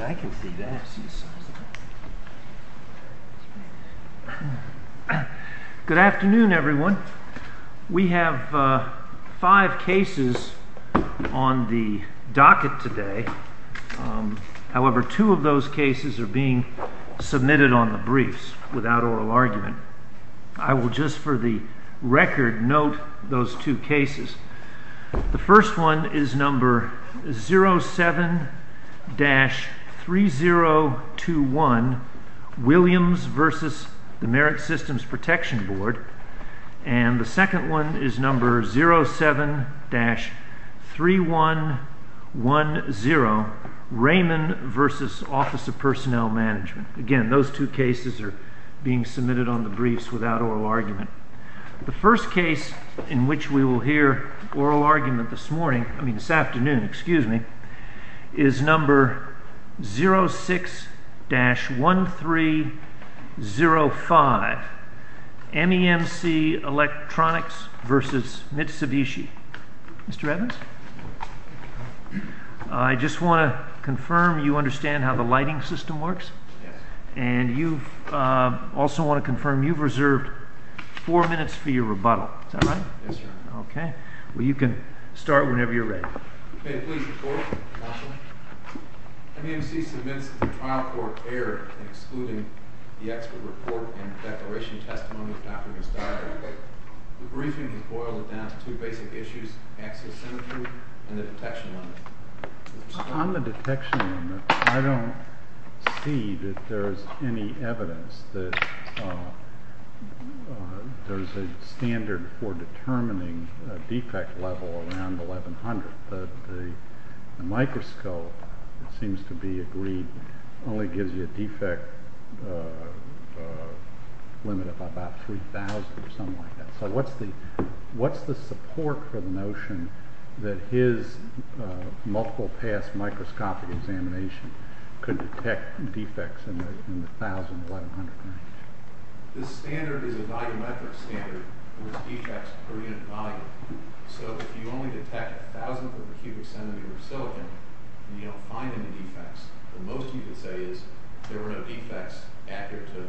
I can see that. Good afternoon, everyone. We have five cases on the docket today. However, two of those cases are being submitted on the briefs without oral argument. I will just, for the record, note those two cases. The first one is number 07-3021, Williams v. Merit Systems Protection Board, and the second one is number 07-3110, Raymond v. Office of Personnel Management. Again, those two cases are being submitted on the briefs without oral argument. The first case in which we will hear oral argument this morning, I mean this afternoon, excuse me, is number 06-1305, MEMC Electronics v. Mitsubishi. Mr. Evans? Yes. I just want to confirm you understand how the lighting system works? Yes. And you also want to confirm you've reserved four minutes for your rebuttal. Is that right? Yes, sir. Okay. Well, you can start whenever you're ready. Okay. Please report, counsel. MEMC submits the trial court error excluding the expert report and declaration testimony after this diary. The briefing has boiled it down to two basic issues, axial symmetry and the detection limit. Mr. Spock? On the detection limit, I don't see that there's any evidence that there's a standard for determining a defect level around 1100, but the microscope, it seems to be agreed, only gives you a defect limit of about 3000 or something like that. So what's the support for the notion that his multiple pass microscopic examination could detect defects in the 1100 range? The standard is a volumetric standard with defects per unit volume. So if you only detect thousandth of a cubic centimeter of silicon and you don't find any defects, the most you could say is there were no defects accurate to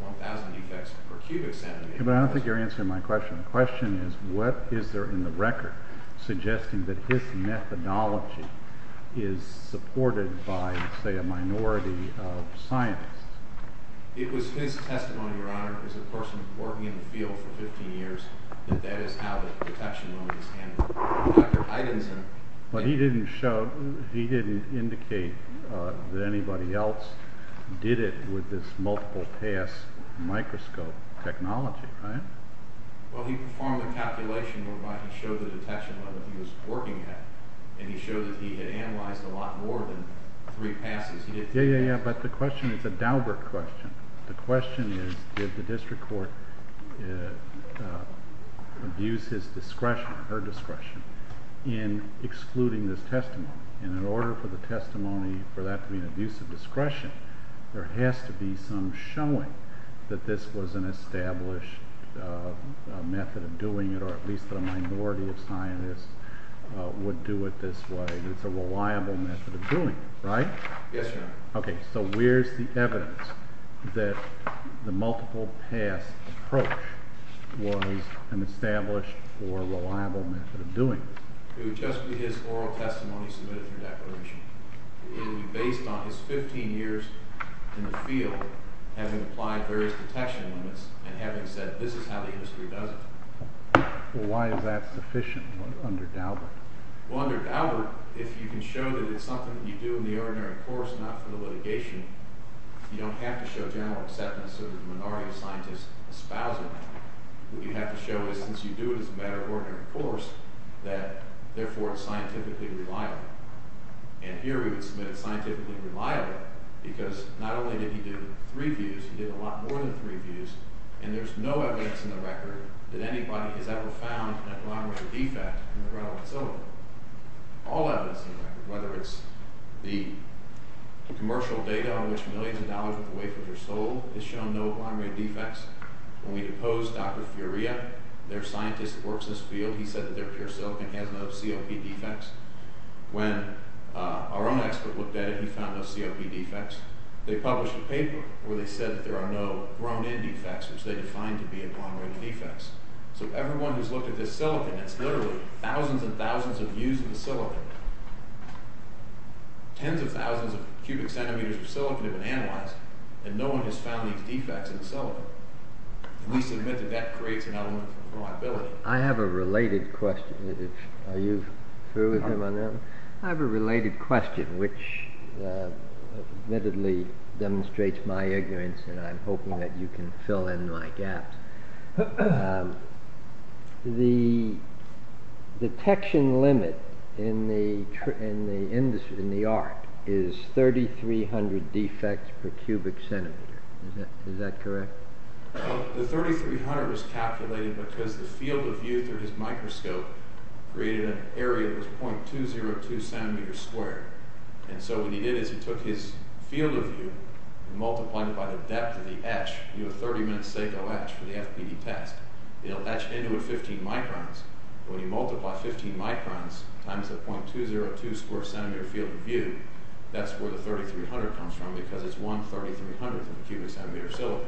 1000 defects per cubic centimeter. But I don't think you're answering my question. The question is, what is there in the record suggesting that his methodology is supported by, say, a minority of scientists? It was his testimony, Your Honor, as a person working in the field for 15 years, that that is how the detection limit is handled. Dr. Heidenson... But he didn't show, he didn't indicate that anybody else did it with this multiple pass microscope technology, right? Well, he performed a calculation whereby he showed the detection level he was working at and he showed that he had analyzed a lot more than three passes. He didn't... Yeah, yeah, yeah, but the question is a Daubert question. The question is, did the district court abuse his discretion or her discretion in excluding this testimony? And in order for the testimony for that to be an abuse of discretion, there has to be some showing that this was an established method of doing it, or at least that a minority of scientists would do it this way. It's a reliable method of doing it, right? Yes, Your Honor. Okay, so where's the evidence that the multiple pass approach was an established or reliable method of doing this? It would just be his oral testimony submitted in the declaration. It would be based on his 15 years in the field having applied various detection limits and having said this is how the industry does it. Well, why is that sufficient under Daubert? Well, under Daubert, if you can show that it's something that you do in the ordinary course, not for the litigation, you don't have to show general acceptance of the minority of scientists espousing it. What you have to show is since you do it as a matter of ordinary course, that therefore it's scientifically reliable. And here we would submit it's scientifically reliable because not only did he do three views, he did a lot more than three views, and there's no evidence in the record that anybody has ever found an abnormality defect in the relevant silicon. All evidence in the record, whether it's the commercial data on which millions of dollars worth of wafers are sold has shown no abnormal defects. When we deposed Dr. Furia, their scientist that works in this field, he said that their pure silicon has no COP defects. When our own expert looked at it, he found no COP defects. They published a paper where they said that there are no grown-in defects, which they defined to be abnormal defects. So everyone who's looked at this silicon, it's literally thousands and thousands of views of the silicon. Tens of thousands of cubic centimeters of silicon have been analyzed, and no one has found these defects in the silicon. We submit that that creates an element of liability. I have a related question. Are you through with him on that? I have a related question which admittedly demonstrates my ignorance, and I'm hoping that you can fill in my gaps. The detection limit in the industry, in the art, is 3,300 defects per cubic centimeter. Is that correct? The 3,300 was calculated because the field of view through his microscope created an area that was 0.202 centimeters squared, and so what he did is he took his field of view and multiplied it by the depth of the etch, a 30-minute SACO etch for the FPD test. He'll etch into it 15 microns. When you multiply 15 microns times the 0.202 square centimeter field of view, that's where the 3,300 comes from because it's 1,3300th of a cubic centimeter silicon,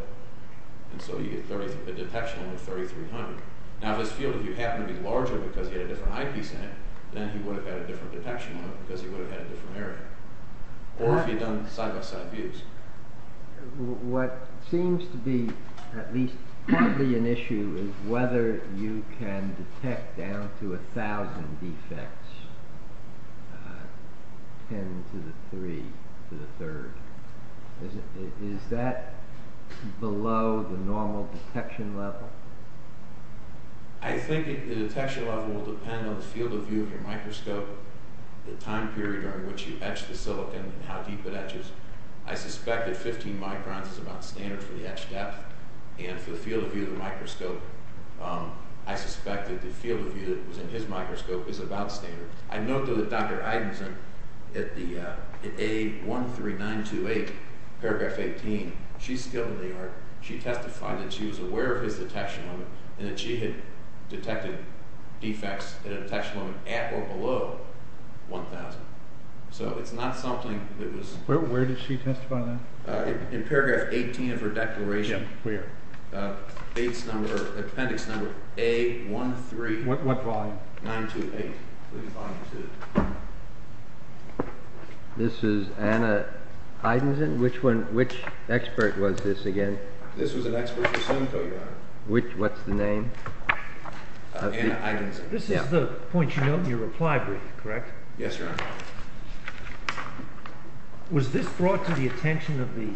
and so you get a detection limit of 3,300. Now this field, if you happen to be larger because he had a different eyepiece in it, then he would have had a different detection limit because he would have had a different area, or if he'd done side-by-side views. What seems to be at least partly an issue is whether you can detect down to a thousand defects, 10 to the 3 to the third. Is that below the normal detection level? I think the detection level will depend on the field of view of your microscope, the time period during which you etch the silicon, and how deep it etches. I suspect that 15 microns is about standard for the etch depth, and for the field of view of the microscope, I suspect that the field of view that was in his microscope is about standard. I note though that Dr. Eidenson at A13928, paragraph 18, she's skilled in the art. She testified that she was aware of his detection limit and that she had detected defects at a detection limit at or below 1,000. So it's not something that was... Where did she testify that? In paragraph 18 of her declaration. Where? Appendix number A13... What volume? 928. This is Anna Eidenson. Which expert was this again? This was an expert for silicon. What's the name? Anna Eidenson. This is the point. You note in your reply brief, correct? Yes, Your Honor. Was this brought to the attention of the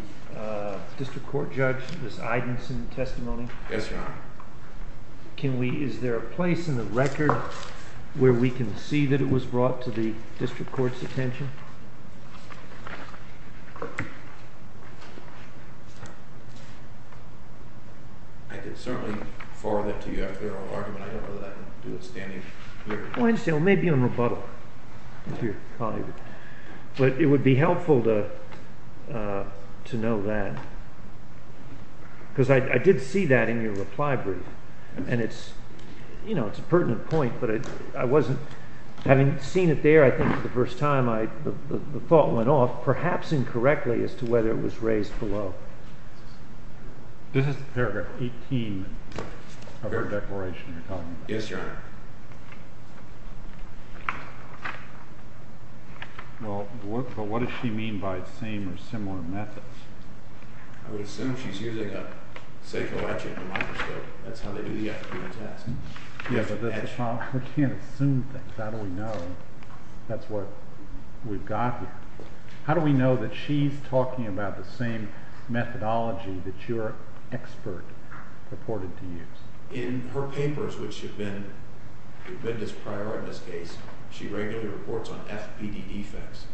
district court judge, this Eidenson testimony? Yes, Your Honor. Can we... Is there a place in the record where we can see that it was brought to the district court's attention? I can certainly forward it to you after the oral argument. I don't know that I can do it standing here. I understand. Maybe on rebuttal. But it would be helpful to know that. Because I did see that in your reply brief. And it's, you know, it's a pertinent point, but I wasn't... Having seen it there, I think, for the first time, the thought went off, perhaps incorrectly, as to whether it was raised below. This is paragraph 18 of her declaration. Yes, Your Honor. Well, what does she mean by same or similar methods? I would assume she's using a silicon legend microscope. That's how they do the FPD test. Yes, but we can't assume things. How do we know? That's what we've got here. How do we know that she's talking about the same methodology that your expert reported to use? In her papers, which have been this prior in this case, she regularly reports on FPD defects.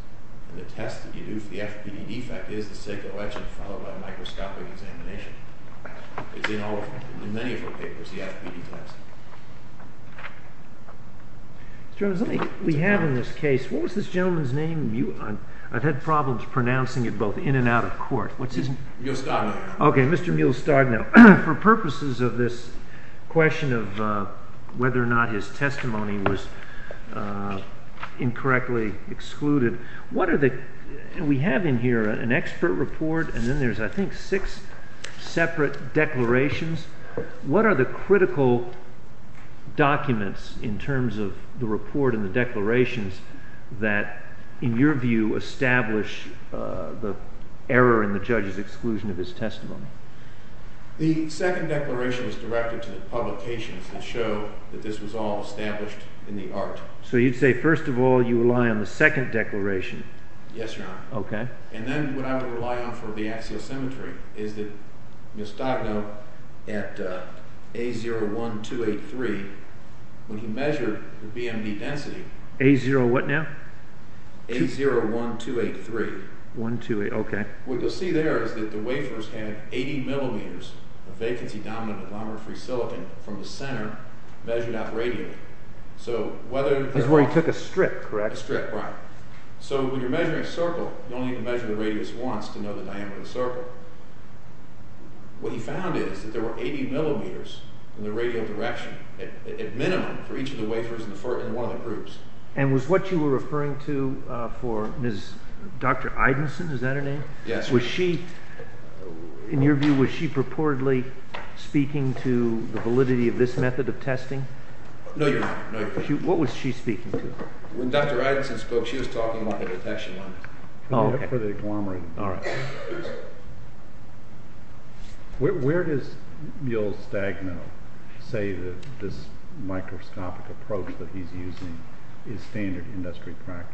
And the test that you do for the FPD defect is the silicon legend followed by microscopic examination. It's in all of her papers. In many of her papers, the FPD test. Mr. Evans, let me... We have in this case, what was this gentleman's name? I've had problems pronouncing it both in and out of court. What's his name? Mule Stardnow. Okay, Mr. Mule Stardnow. For purposes of this question of whether or not his testimony was incorrectly excluded, what are the... We have in here an expert report and then there's, I think, six separate declarations. What are the critical documents in terms of the report and the declarations that, in your view, establish the error in the judge's exclusion of his testimony? The second declaration is directed to the publications that show that this was all established in the art. So you'd say, first of all, you rely on the second declaration? Yes, Your Honor. Okay. And then what I would rely on for the axial symmetry is that Mule Stardnow, at A01283, when he measured the BMD density... A0 what now? A01283. 1283, okay. What you'll see there is that the wafers have 80 millimeters of vacancy-dominant silicon from the center measured out radially. So whether... That's where he took a strip, correct? A strip, right. So when you're measuring a circle, you only have to measure the radius once to know the diameter of the circle. What he found is that there were 80 millimeters in the radial direction, at minimum, for each of the wafers in one of the groups. And was what you were referring to for Dr. Idenson, is that her name? Yes. Was she, in your view, was she purportedly speaking to the validity of this method of testing? No, Your Honor. What was she speaking to? When Dr. Idenson spoke, she was talking about the detection limits. Oh, okay. For the agglomerated... All right. Where does Mule Stardnow say that this microscopic approach that he's using is standard industry practice?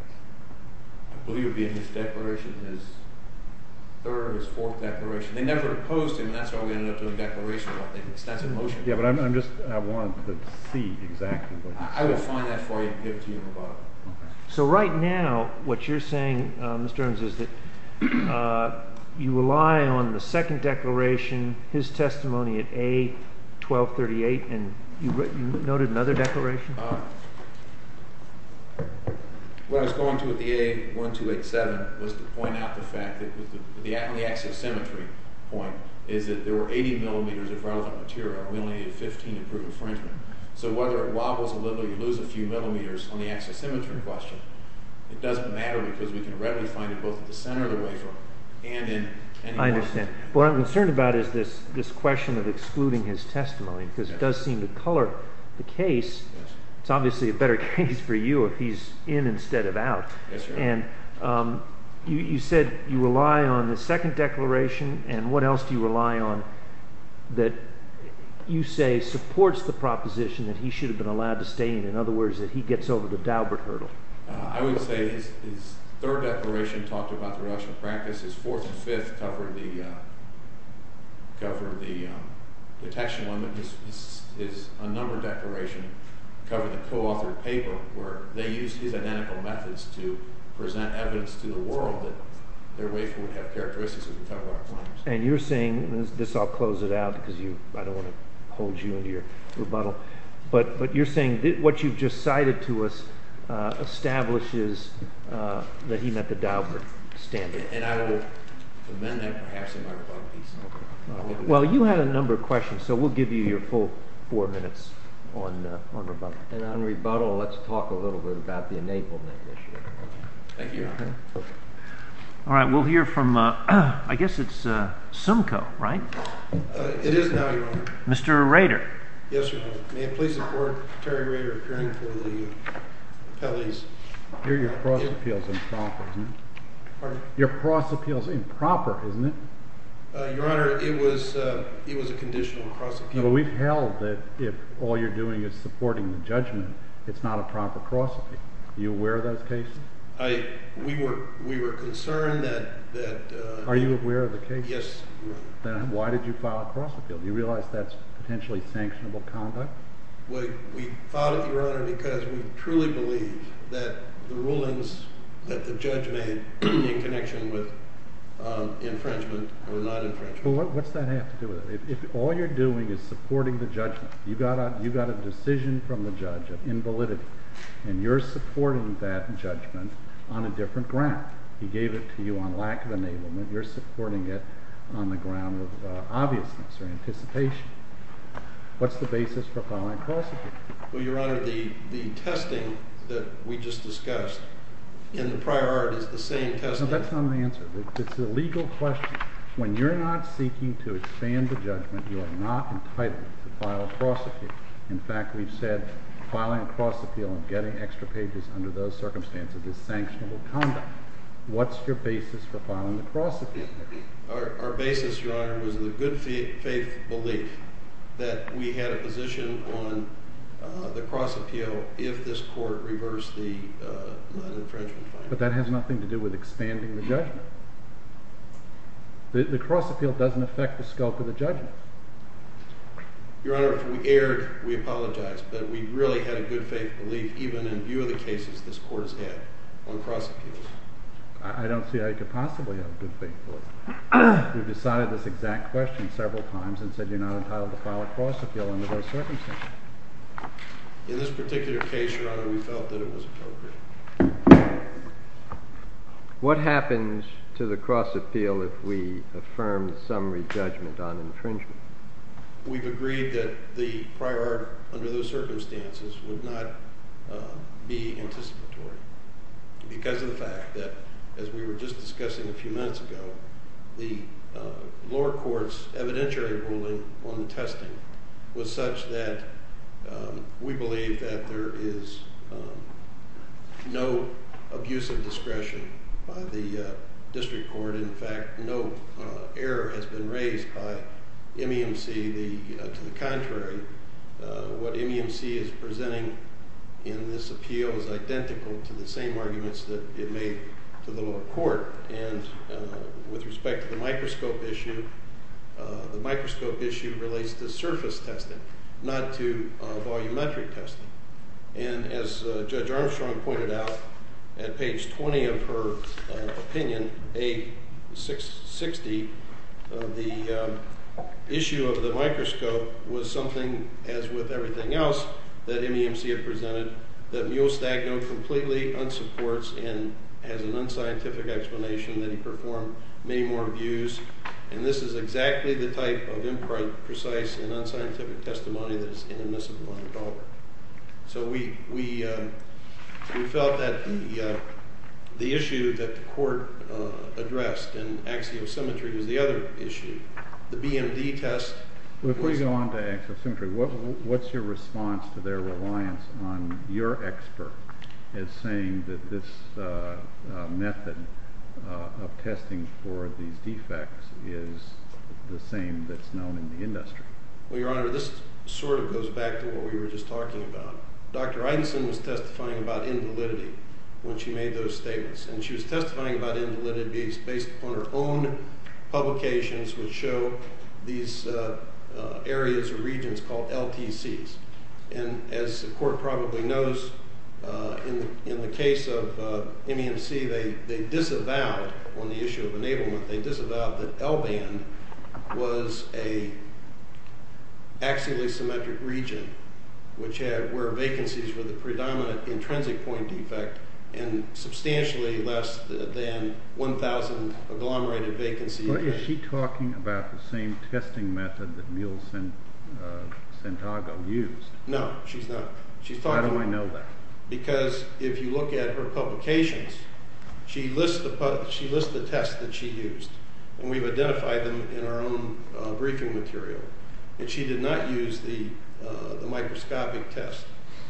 I believe it would be in his declaration, his third or his fourth declaration. They never opposed him, and that's why we ended up doing declarations, I think, extensive motions. Yeah, but I'm just... I want to see exactly what he said. I will find that for you and give it to you in a rebuttal. Okay. So right now, what you're saying, Mr. Ernst, is that you rely on the second declaration, his testimony at A, 1238, and you noted another declaration? Uh, what I was going to at the A, 1287, was to point out the fact that the axi-symmetry point is that there were 80 millimeters of relevant material. We only needed 15 to prove infringement. So whether it wobbles a little, you lose a few millimeters on the axi-symmetry question, it doesn't matter because we can readily find it both at the center of the wafer and in... I understand. What I'm concerned about is this question of excluding his testimony, because it does seem to color the case. It's obviously a better case for you if he's in instead of out. Yes, sir. And you said you rely on the second declaration, and what else do you rely on that you say supports the proposition that he should have been allowed to stay in? In other words, that he gets over the Daubert hurdle? I would say his third declaration talked about the reduction of practice. His fourth and fifth covered the detection limit. His unnumbered declaration covered the co-authored paper where they used his identical methods to present evidence to the world that their wafer would have characteristics that would cover our claims. And you're saying, and this I'll close it out because I don't want to hold you into your rebuttal, but you're saying what you've just cited to us establishes that he met the Daubert standard. And I will amend that perhaps in my rebuttal piece. Well, you had a number of questions, so we'll give you your full four minutes on rebuttal. And on rebuttal, let's talk a little bit about the enablement issue. Thank you, Your Honor. All right, we'll hear from, I guess it's Simcoe, right? It is now, Your Honor. Mr. Rader. Yes, Your Honor. May it please the Court, Terry Rader, appearing before the appellees. Hear your cross appeals in profit. Pardon? Your cross appeals in proper, isn't it? Your Honor, it was a conditional cross appeal. But we've held that if all you're doing is supporting the judgment, it's not a proper cross appeal. Are you aware of those cases? We were concerned that- Are you aware of the case? Yes, Your Honor. Then why did you file a cross appeal? Do you realize that's potentially sanctionable conduct? We filed it, Your Honor, because we truly believe that the rulings that the judge made in connection with infringement were not infringement. What's that have to do with it? If all you're doing is supporting the judgment, you got a decision from the judge of invalidity, and you're supporting that judgment on a different ground. He gave it to you on lack of enablement. You're supporting it on the ground of obviousness or anticipation. What's the basis for filing a cross appeal? Well, Your Honor, the testing that we just discussed in the prior art is the same testing- No, that's not an answer. It's a legal question. When you're not seeking to expand the judgment, you are not entitled to file a cross appeal. In fact, we've said filing a cross appeal and getting extra pages under those circumstances is sanctionable conduct. What's your basis for filing a cross appeal? Our basis, Your Honor, was the good faith belief that we had a position on the cross appeal if this court reversed the non-infringement fine. But that has nothing to do with expanding the judgment. The cross appeal doesn't affect the scope of the judgment. Your Honor, if we erred, we apologize, but we really had a good faith belief, even in view of the cases this court has had on cross appeals. I don't see how you could possibly have a good faith belief. We've decided this exact question several times and said you're not entitled to file a cross appeal under those circumstances. In this particular case, Your Honor, we felt that it was appropriate. What happens to the cross appeal if we affirm the summary judgment on infringement? We've agreed that the prior art under those circumstances would not be anticipatory because of the fact that, as we were just discussing a few minutes ago, the lower court's evidentiary ruling on the testing was such that we believe that there is no abuse of discretion by the district court. In fact, no error has been raised by MEMC. To the contrary, what MEMC is presenting in this appeal is identical to the same arguments that it made to the lower court. With respect to the microscope issue, the microscope issue relates to surface testing, not to volumetric testing. As Judge Armstrong pointed out at page 20 of her opinion, page 60, the issue of the microscope was something, as with everything else that MEMC had presented, that Mule Stagno completely unsupports and has an unscientific explanation that he performed many more abuse. This is exactly the type of imprecise and unscientific testimony that is inadmissible. So we felt that the issue that the court addressed in axiosymmetry was the other issue. The BMD test was— If we go on to axiosymmetry, what's your response to their reliance on your expert as saying that this method of testing for these defects is the same that's known in the industry? Well, Your Honor, this sort of goes back to what we were just talking about. Dr. Eidenson was testifying about invalidity when she made those statements, and she was testifying about invalidity based upon her own publications which show these areas or regions called LTCs. And as the court probably knows, in the case of MEMC, they disavowed—on the issue of axiosymmetric region, where vacancies were the predominant intrinsic point defect and substantially less than 1,000 agglomerated vacancies. But is she talking about the same testing method that Mule Santago used? No, she's not. She's talking about— How do I know that? Because if you look at her publications, she lists the tests that she used, and we've identified them in our own briefing material. She did not use the microscopic test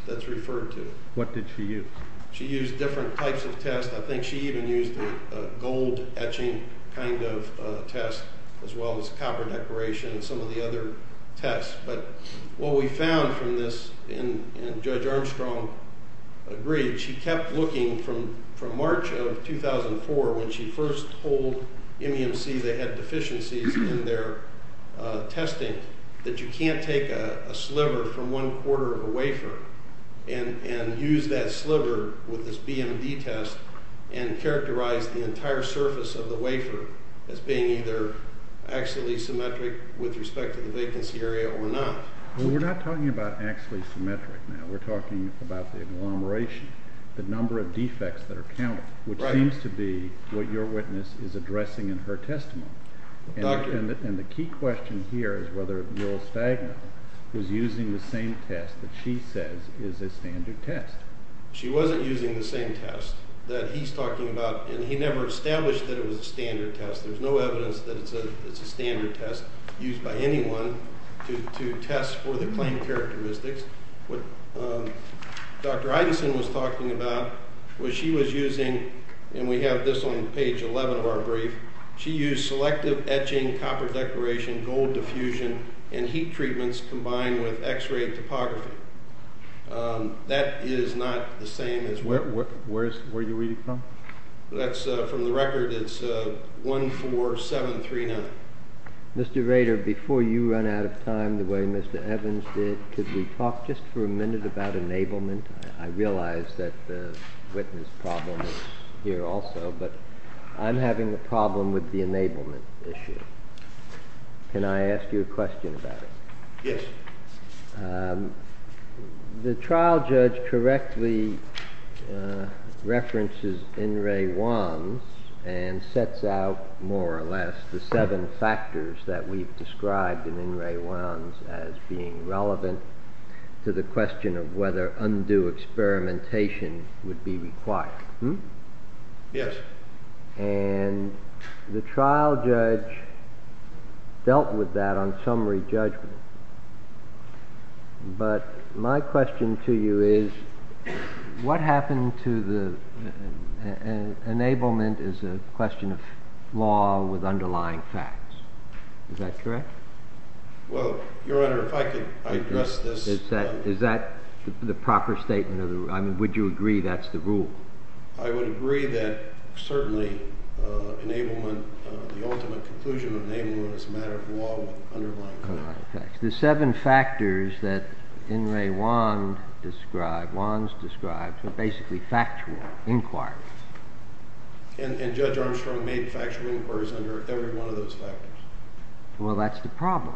that's referred to. What did she use? She used different types of tests. I think she even used a gold etching kind of test, as well as copper decoration and some of the other tests. But what we found from this, and Judge Armstrong agreed, she kept looking from March of 2004 when she first told MEMC they had deficiencies in their testing, that you can't take a sliver from one quarter of a wafer and use that sliver with this BMD test and characterize the entire surface of the wafer as being either axiosymmetric with respect to the vacancy area or not. We're not talking about axiosymmetric now. We're talking about the agglomeration, the number of defects that are counted, which seems to be what your witness is addressing in her testimony. And the key question here is whether Will Stagner was using the same test that she says is a standard test. She wasn't using the same test that he's talking about, and he never established that it was a standard test. There's no evidence that it's a standard test used by anyone to test for the claimed characteristics. What Dr. Eidenson was talking about was she was using, and we have this on page 11 of our brief, she used selective etching, copper decoration, gold diffusion, and heat treatments combined with x-ray topography. That is not the same as where you're reading from. That's from the record, it's 14739. Mr. Rader, before you run out of time the way Mr. Evans did, could we talk just for a minute about enablement? I realize that the witness problem is here also, but I'm having a problem with the enablement issue. Can I ask you a question about it? Yes. The trial judge correctly references In re Wans and sets out more or less the seven factors that we've described in In re Wans as being relevant to the question of whether undue experimentation would be required. Yes. And the trial judge dealt with that on summary judgment. But my question to you is, what happened to the enablement as a question of law with underlying facts? Is that correct? Well, Your Honor, if I could address this. Is that the proper statement of the rule? I mean, would you agree that's the rule? I would agree that certainly enablement, the ultimate conclusion of enablement as a matter of law with underlying facts. The seven factors that In re Wans described are basically factual inquiries. And Judge Armstrong made factual inquiries under every one of those factors. Well, that's the problem.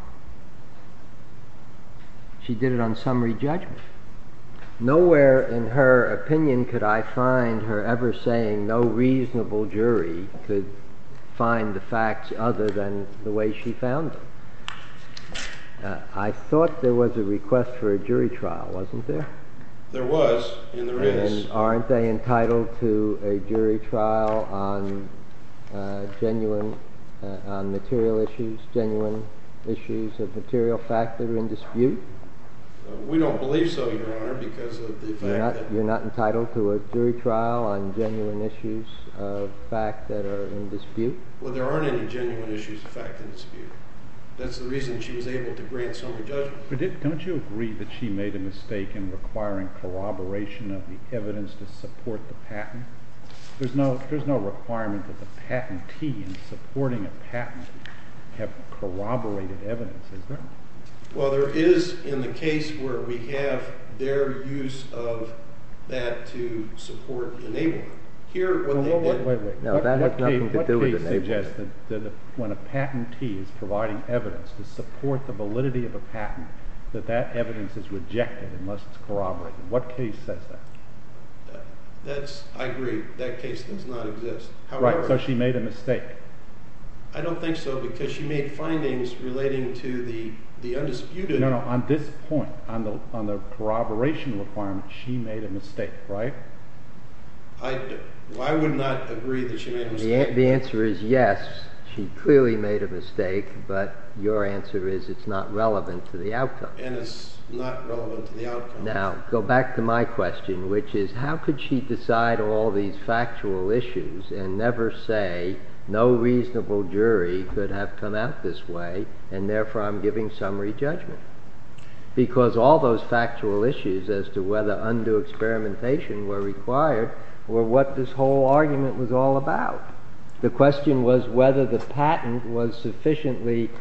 She did it on summary judgment. Nowhere in her opinion could I find her ever saying no reasonable jury could find the facts other than the way she found them. I thought there was a request for a jury trial, wasn't there? There was, and there is. And aren't they entitled to a jury trial on genuine material issues, genuine issues of material fact that are in dispute? We don't believe so, Your Honor, because of the fact that- You're not entitled to a jury trial on genuine issues of fact that are in dispute? Well, there aren't any genuine issues of fact in dispute. That's the reason she was able to grant summary judgment. Don't you agree that she made a mistake in requiring corroboration of the evidence to support the patent? There's no requirement that the patentee in supporting a patent have corroborated evidence, is there? Well, there is in the case where we have their use of that to support the enabler. Here, what they did- Wait, wait, wait. That has nothing to do with the enabler. What case suggested that when a patentee is providing evidence to support the validity of a patent, that that evidence is rejected unless it's corroborated? What case says that? I agree. That case does not exist. Right, so she made a mistake. I don't think so because she made findings relating to the undisputed- No, no. On this point, on the corroboration requirement, she made a mistake, right? I would not agree that she made a mistake. The answer is yes. She clearly made a mistake, but your answer is it's not relevant to the outcome. And it's not relevant to the outcome. Now, go back to my question, which is how could she decide all these factual issues and never say no reasonable jury could have come out this way, and therefore, I'm giving summary judgment? Because all those factual issues as to whether undue experimentation were required were what this whole argument was all about. The question was whether the patent was sufficiently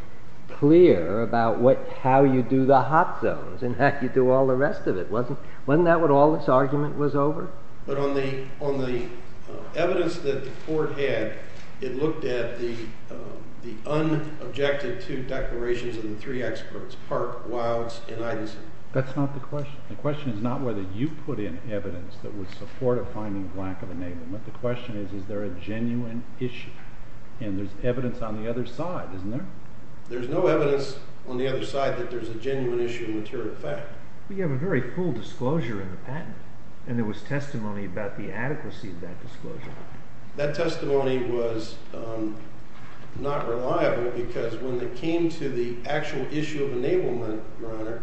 clear about how you do the hot zones and how you do all the rest of it. Wasn't that what all this argument was over? But on the evidence that the court had, it looked at the unobjective two declarations of the three experts, Park, Wildes, and Idinson. That's not the question. The question is not whether you put in evidence that would support a finding of lack of enablement. The question is, is there a genuine issue? And there's evidence on the other side, isn't there? There's no evidence on the other side that there's a genuine issue of material fact. We have a very full disclosure in the patent. And there was testimony about the adequacy of that disclosure. That testimony was not reliable because when it came to the actual issue of enablement, Your Honor,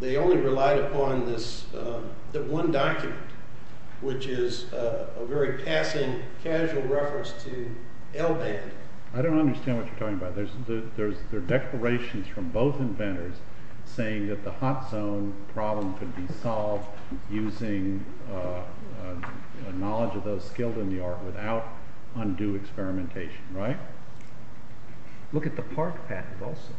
they only relied upon this one document, which is a very passing casual reference to L-band. I don't understand what you're talking about. They're declarations from both inventors saying that the hot zone problem could be solved using knowledge of those skilled in the art without undue experimentation, right? Look at the Park patent also.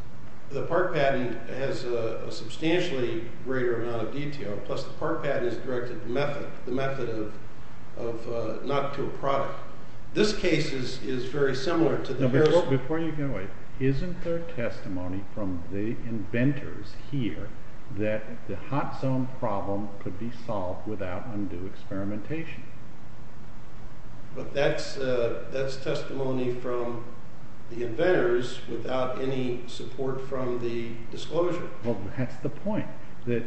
The Park patent has a substantially greater amount of detail. Plus, the Park patent is directed to method, the method of not to a product. This case is very similar to the Harold. Before you get away, isn't there testimony from the inventors here that the hot zone problem could be solved without undue experimentation? But that's testimony from the inventors without any support from the disclosure. Well, that's the point. That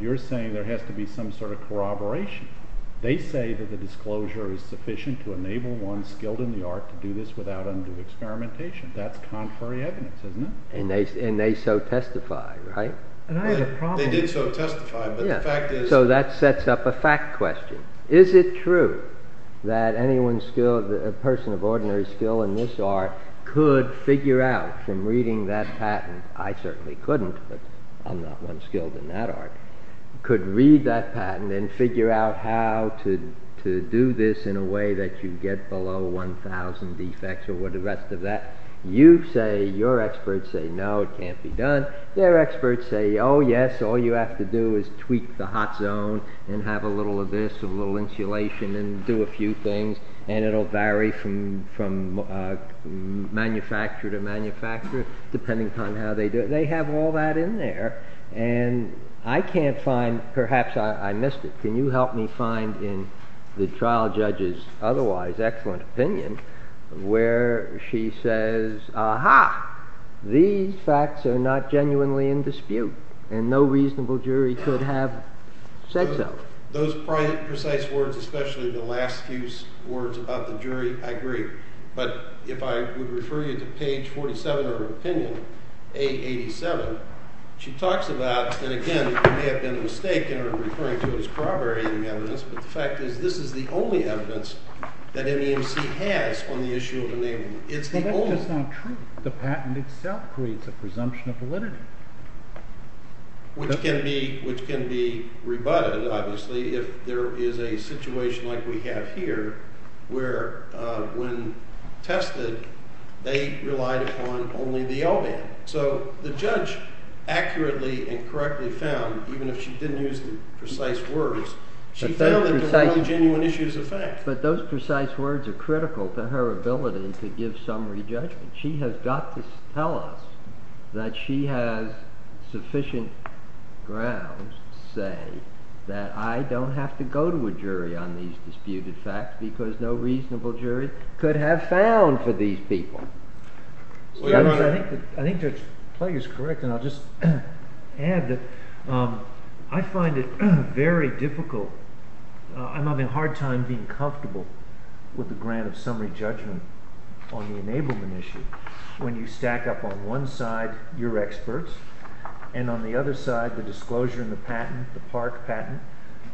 you're saying there has to be some sort of corroboration. They say that the disclosure is sufficient to enable one skilled in the art to do this without undue experimentation. That's contrary evidence, isn't it? And they so testify, right? They did so testify, but the fact is- So that sets up a fact question. Is it true that anyone skilled, a person of ordinary skill in this art could figure out from reading that patent, I certainly couldn't, but I'm not one skilled in that art, could read that patent and figure out how to do this in a way that you get below 1,000 defects or what the rest of that. You say, your experts say, no, it can't be done. Their experts say, oh yes, all you have to do is tweak the hot zone and have a little of this, a little insulation and do a few things. And it'll vary from manufacturer to manufacturer, depending upon how they do it. They have all that in there. And I can't find, perhaps I missed it. Can you help me find in the trial judge's otherwise excellent opinion where she says, aha, these facts are not genuinely in dispute and no reasonable jury could have said so. Those precise words, especially the last few words about the jury, I agree. But if I would refer you to page 47 of her opinion, A87, she talks about, and again, it may have been a mistake in her referring to it as corroborating evidence, but the fact is this is the only evidence that MEMC has on the issue of enablement. It's the only one. But that's just not true. The patent itself creates a presumption of validity. Which can be rebutted, obviously, if there is a situation like we have here where when tested, they relied upon only the L band. So the judge accurately and correctly found, even if she didn't use the precise words, she found that there were only genuine issues of fact. But those precise words are critical to her ability to give summary judgment. She has got to tell us that she has sufficient grounds to say that I don't have to go to a jury on these disputed facts because no reasonable jury could have found for these people. I think Judge Plagg is correct, and I'll just add that I find it very difficult. I'm having a hard time being comfortable with the grant of summary judgment on the enablement issue when you stack up on one side your experts and on the other side the park patent,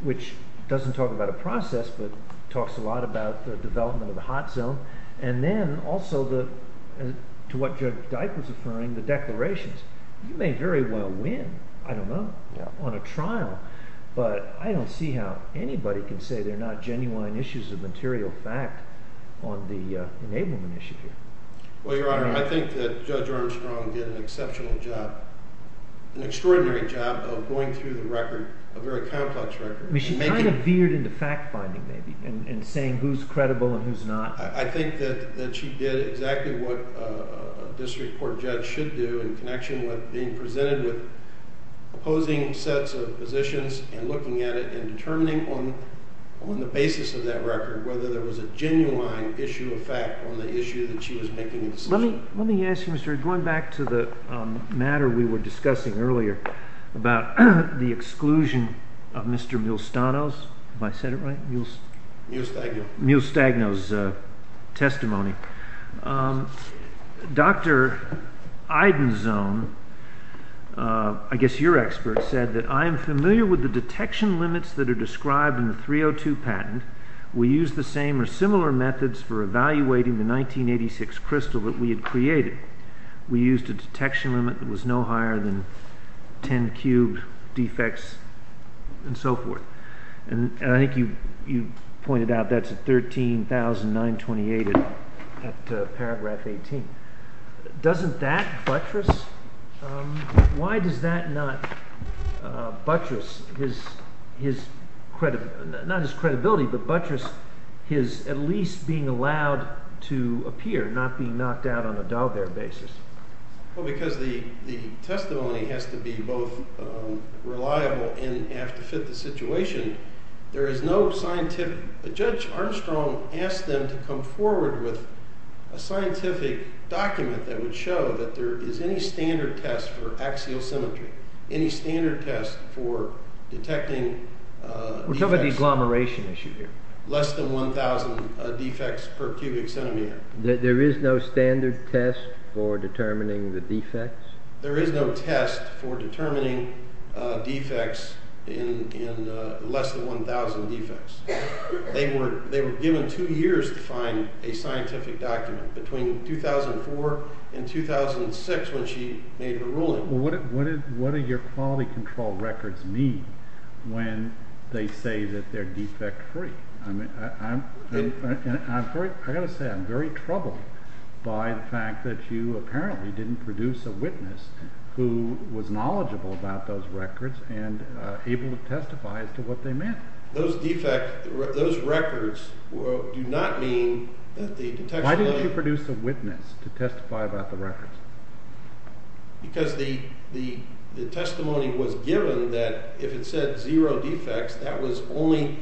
which doesn't talk about a process but talks a lot about the development of the hot zone. And then also to what Judge Dyke was affirming, the declarations. You may very well win, I don't know, on a trial, but I don't see how anybody can say they're not genuine issues of material fact on the enablement issue here. Well, Your Honor, I think that Judge Armstrong did an exceptional job, an extraordinary job of going through the record, a very complex record. I mean, she kind of veered into fact-finding maybe and saying who's credible and who's not. I think that she did exactly what a district court judge should do in connection with being presented with opposing sets of positions and looking at it and determining on the basis of that record whether there was a genuine issue of fact on the issue that she was making a decision on. Let me ask you, Mr. Reed, going back to the matter we were discussing earlier about the exclusion of Mr. Milstagno's testimony. Dr. Eidenzohn, I guess your expert, said that I am familiar with the detection limits that are described in the 302 patent. We used the same or similar methods for evaluating the 1986 crystal that we had created. We used a detection limit that was no higher than 10 cubed defects and so forth. I think you pointed out that's a 13,928 at paragraph 18. Doesn't that buttress? Why does that not buttress his credibility, not his credibility, but buttress his at least being allowed to appear, not being knocked out on a d'Albert basis? Well, because the testimony has to be both reliable and have to fit the situation. There is no scientific. Judge Armstrong asked them to come forward with a scientific document that would show that there is any standard test for axial symmetry, any standard test for detecting defects. We're talking about the agglomeration issue here. Less than 1,000 defects per cubic centimeter. There is no standard test for determining the defects? There is no test for determining defects in less than 1,000 defects. They were given two years to find a scientific document, between 2004 and 2006 when she made her ruling. Well, what do your quality control records mean when they say that they're defect free? I've got to say, I'm very troubled by the fact that you apparently didn't produce a witness who was knowledgeable about those records and able to testify as to what they meant. Those records do not mean that the detection... Why didn't you produce a witness to testify about the records? Because the testimony was given that if it said zero defects, that was only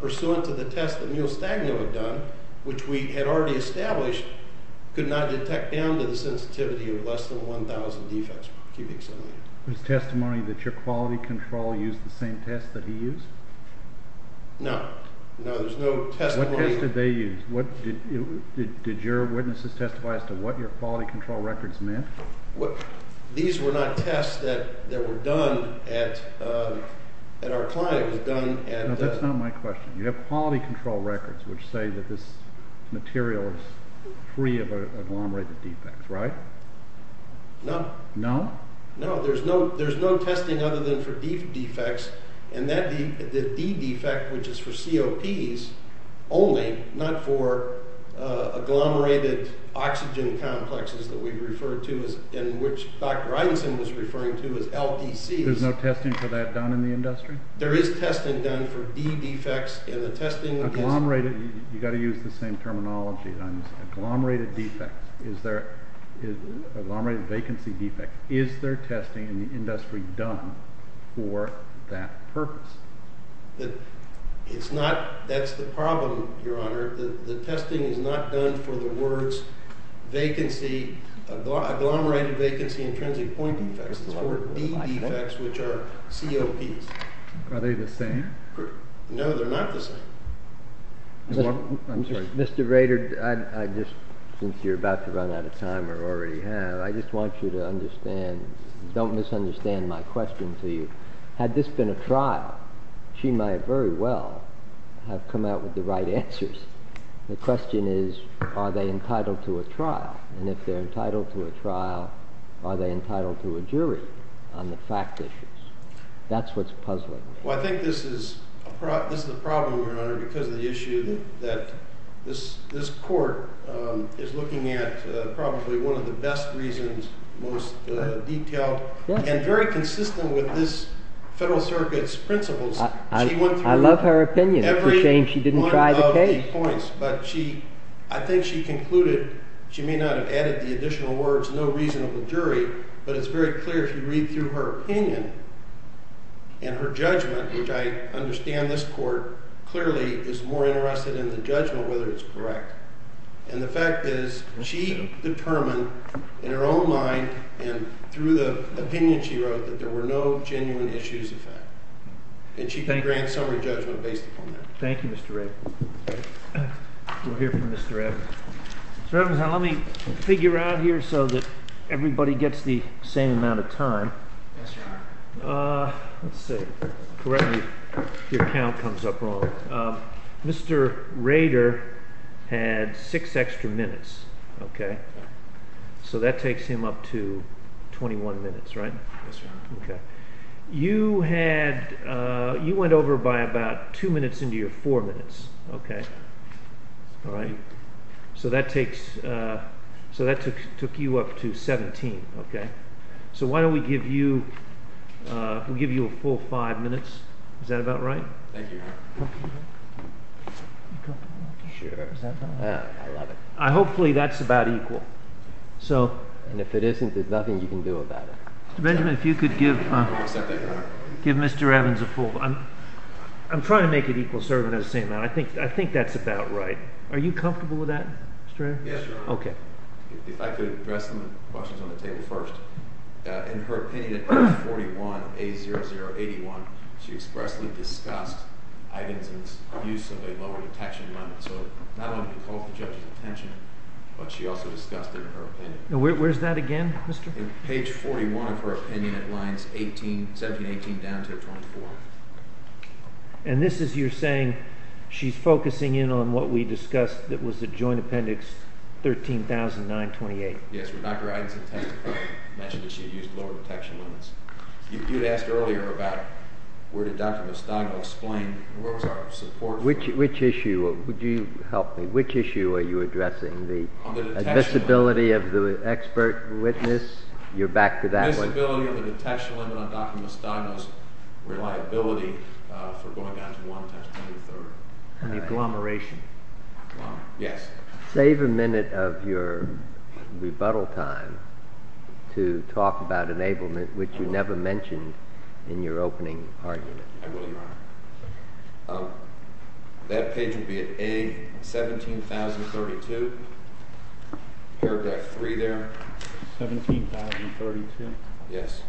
pursuant to the test that Mule Stagno had done, which we had already established could not detect down to the sensitivity of less than 1,000 defects per cubic centimeter. There's testimony that your quality control used the same test that he used? No. No, there's no testimony. What test did they use? Did your witnesses testify as to what your quality control records meant? These were not tests that were done at our client, it was done at... No, that's not my question. You have quality control records which say that this material is free of agglomerated defects, right? No. No? No, there's no testing other than for defects, and the D defect, which is for COPs only, not for agglomerated oxygen complexes that we refer to as... In which Dr. Eidenson was referring to as LDCs. There's no testing for that done in the industry? There is testing done for D defects, and the testing is... Agglomerated, you got to use the same terminology. Agglomerated defects, is there... Agglomerated vacancy defects, is there testing in the industry done for that purpose? It's not... That's the problem, Your Honor. The testing is not done for the words vacancy, agglomerated vacancy intrinsic point defects. It's for D defects, which are COPs. Are they the same? No, they're not the same. I'm sorry. Mr. Rader, I just, since you're about to run out of time or already have, I just want you to understand, don't misunderstand my question to you. Had this been a trial, she might very well have come out with the right answers. The question is, are they entitled to a trial? And if they're entitled to a trial, are they entitled to a jury on the fact issues? That's what's puzzling me. I think this is the problem, Your Honor, because of the issue that this court is looking at probably one of the best reasons, most detailed, and very consistent with this Federal Circuit's principles. I love her opinion. It's a shame she didn't try the case. But she, I think she concluded, she may not have added the additional words, no reasonable jury, but it's very clear if you read through her opinion and her judgment, which I understand this court clearly is more interested in the judgment, whether it's correct. And the fact is she determined in her own mind and through the opinion she wrote that there were no genuine issues of that. And she can grant summary judgment based upon that. Thank you, Mr. Rader. We'll hear from Mr. Evans. Mr. Evans, now let me figure out here so that everybody gets the same amount of time. Yes, Your Honor. Let's see. Correct me if your count comes up wrong. Mr. Rader had six extra minutes, okay? So that takes him up to 21 minutes, right? Yes, Your Honor. Okay. You had, you went over by about two minutes into your four minutes, okay? All right. So that takes, so that took you up to 17, okay? So why don't we give you, we'll give you a full five minutes. Is that about right? Thank you, Your Honor. Sure, is that about right? Yeah, I love it. Hopefully that's about equal. So. And if it isn't, there's nothing you can do about it. Mr. Benjamin, if you could give Mr. Evans a full, I'm trying to make it equal serving as I'm saying that. I think that's about right. Are you comfortable with that? Yes, Your Honor. Okay. If I could address some questions on the table first. In her opinion at page 41, A0081, she expressly discussed Ivan's abuse of a lower detection limit. So not only did it cause the judge's attention, but she also discussed it in her opinion. Where's that again, Mr.? In page 41 of her opinion at lines 17, 18 down to 24. And this is, you're saying she's focusing in on what we discussed that was a joint appendix 13,000, 928. Yes, where Dr. Evans had mentioned that she had used lower detection limits. You'd asked earlier about where did Dr. Mostago explain, where was our support? Which issue, would you help me? Which issue are you addressing? The visibility of the expert witness? You're back to that one. Visibility of the detection limit on Dr. Mostago's reliability for going down to one times 23rd. And the agglomeration. Yes. Save a minute of your rebuttal time to talk about enablement, which you never mentioned in your opening argument. I will, Your Honor. That page would be at A17,032, paragraph 3 there. 17,032? Yes.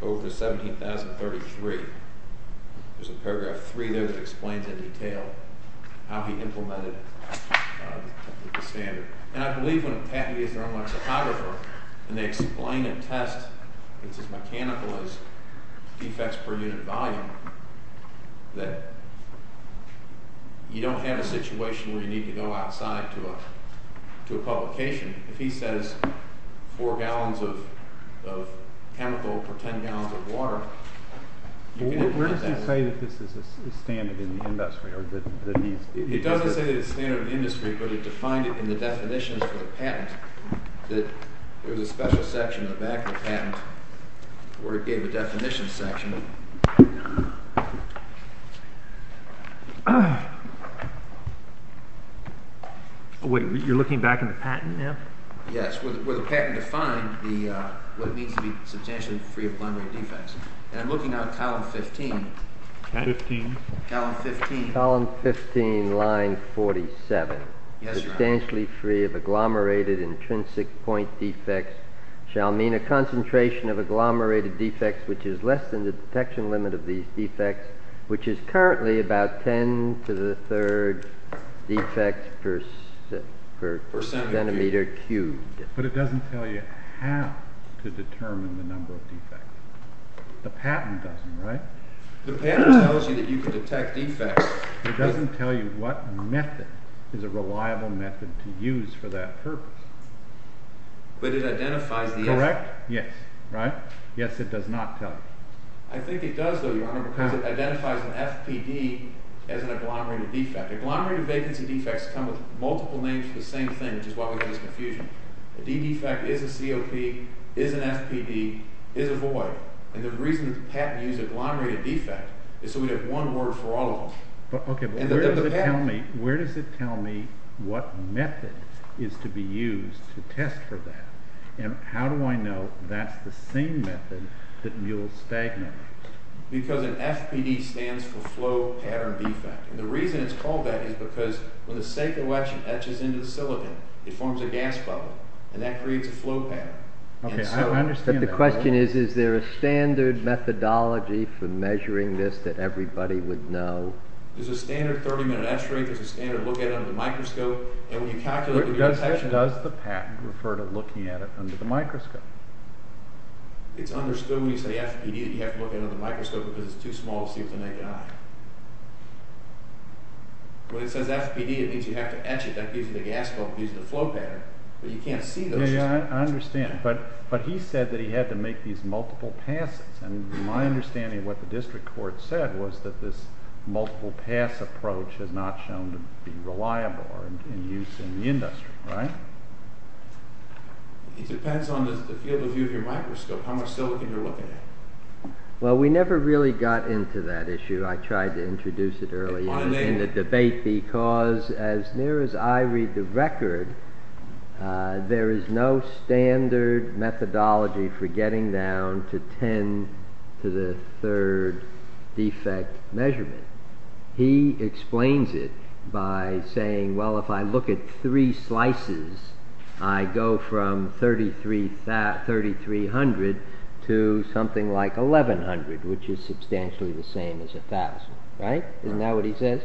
17,032. Over 17,033. There's a paragraph 3 there that explains in detail how he implemented the standard. And I believe when a patent is run by a psychographer and they explain a test that's as mechanical as defects per unit volume, that you don't have a situation where you need to go outside to a publication. If he says four gallons of chemical per 10 gallons of water, you can't do that. Where does he say that this is standard in the industry? It doesn't say that it's standard in the industry, but it defined it in the definitions of the patent. That there was a special section in the back of the patent where it gave a definition section. Oh, wait. You're looking back in the patent now? Yes. Where the patent defined what it means to be substantially free of agglomerated defects. And I'm looking now at column 15. 15? Column 15. Column 15, line 47. Yes, Your Honor. Substantially free of agglomerated intrinsic point defects shall mean a concentration of detection limit of these defects, which is currently about 10 to the third defects per centimeter cubed. But it doesn't tell you how to determine the number of defects. The patent doesn't, right? The patent tells you that you can detect defects. It doesn't tell you what method is a reliable method to use for that purpose. But it identifies the effect. Correct? Yes. Right? Yes, it does not tell you. I think it does, though, Your Honor, because it identifies an FPD as an agglomerated defect. Agglomerated vacancy defects come with multiple names for the same thing, which is why we get this confusion. A D defect is a COP, is an FPD, is a void. And the reason that the patent used agglomerated defect is so we'd have one word for all of them. But OK, but where does it tell me what method is to be used to test for that? And how do I know that's the same method that mules stagnant? Because an FPD stands for flow pattern defect. And the reason it's called that is because when the sacral etching etches into the silicon, it forms a gas bubble, and that creates a flow pattern. OK, I understand. But the question is, is there a standard methodology for measuring this that everybody would know? There's a standard 30 minute x-ray. There's a standard look at it under the microscope. And when you calculate the rotation. Does the patent refer to looking at it under the microscope? It's understood when you say FPD that you have to look at it under the microscope because it's too small to see with the naked eye. When it says FPD, it means you have to etch it. That gives you the gas bubble, gives you the flow pattern. But you can't see those. Yeah, yeah, I understand. But he said that he had to make these multiple passes. And my understanding of what the district court said was that this multiple pass approach has not shown to be reliable or in use in the industry, right? It depends on the field of view of your microscope, how much silicon you're looking at. Well, we never really got into that issue. I tried to introduce it earlier in the debate because as near as I read the record, there is no standard methodology for getting down to 10 to the third defect measurement. He explains it by saying, well, if I look at three slices, I go from 3300 to something like 1100, which is substantially the same as 1000, right? Isn't that what he says?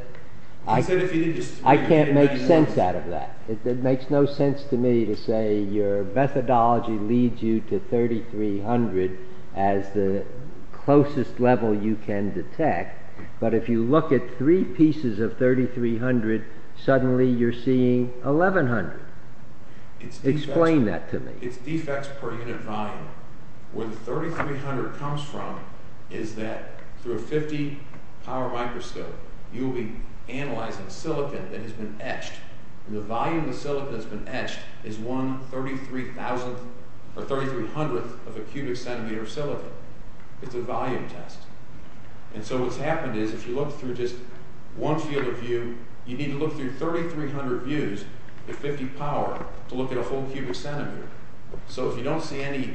I can't make sense out of that. It makes no sense to me to say your methodology leads you to 3300 as the closest level you can detect. But if you look at three pieces of 3300, suddenly you're seeing 1100. Explain that to me. It's defects per unit volume. Where the 3300 comes from is that through a 50 power microscope, you'll be analyzing silicon that has been etched. And the volume of silicon that's been etched is one 33,000th or 3300th of a cubic centimeter of silicon. It's a volume test. And so what's happened is if you look through just one field of view, you need to look through 3300 views at 50 power to look at a full cubic centimeter. So if you don't see any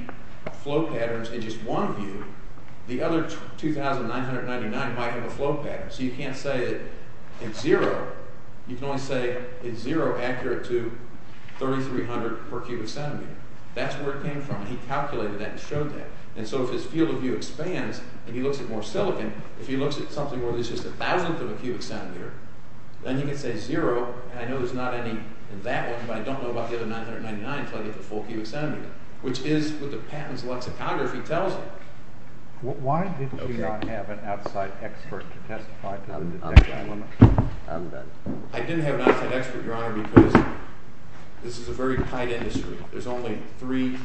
flow patterns in just one view, the other 2,999 might have a flow pattern. So you can't say it's zero. You can only say it's zero accurate to 3300 per cubic centimeter. That's where it came from. He calculated that and showed that. And so if his field of view expands and he looks at more silicon, if he looks at something where there's just a thousandth of a cubic centimeter, then he can say zero. And I know there's not any in that one, but I don't know about the other 999 until I get the full cubic centimeter, which is what the patent's lexicography tells me. Why did you not have an outside expert to testify to the detect element? I didn't have an outside expert, Your Honor, because this is a very tight industry. There's only three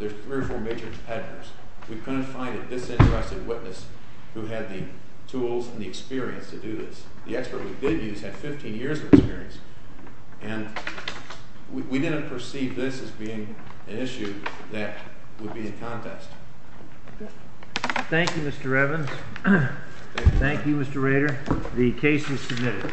or four major competitors. We couldn't find a disinterested witness who had the tools and the experience to do this. The expert we did use had 15 years of experience, and we didn't perceive this as being an issue that would be a contest. Thank you, Mr. Evans. Thank you, Mr. Rader. The case is submitted. Thank you.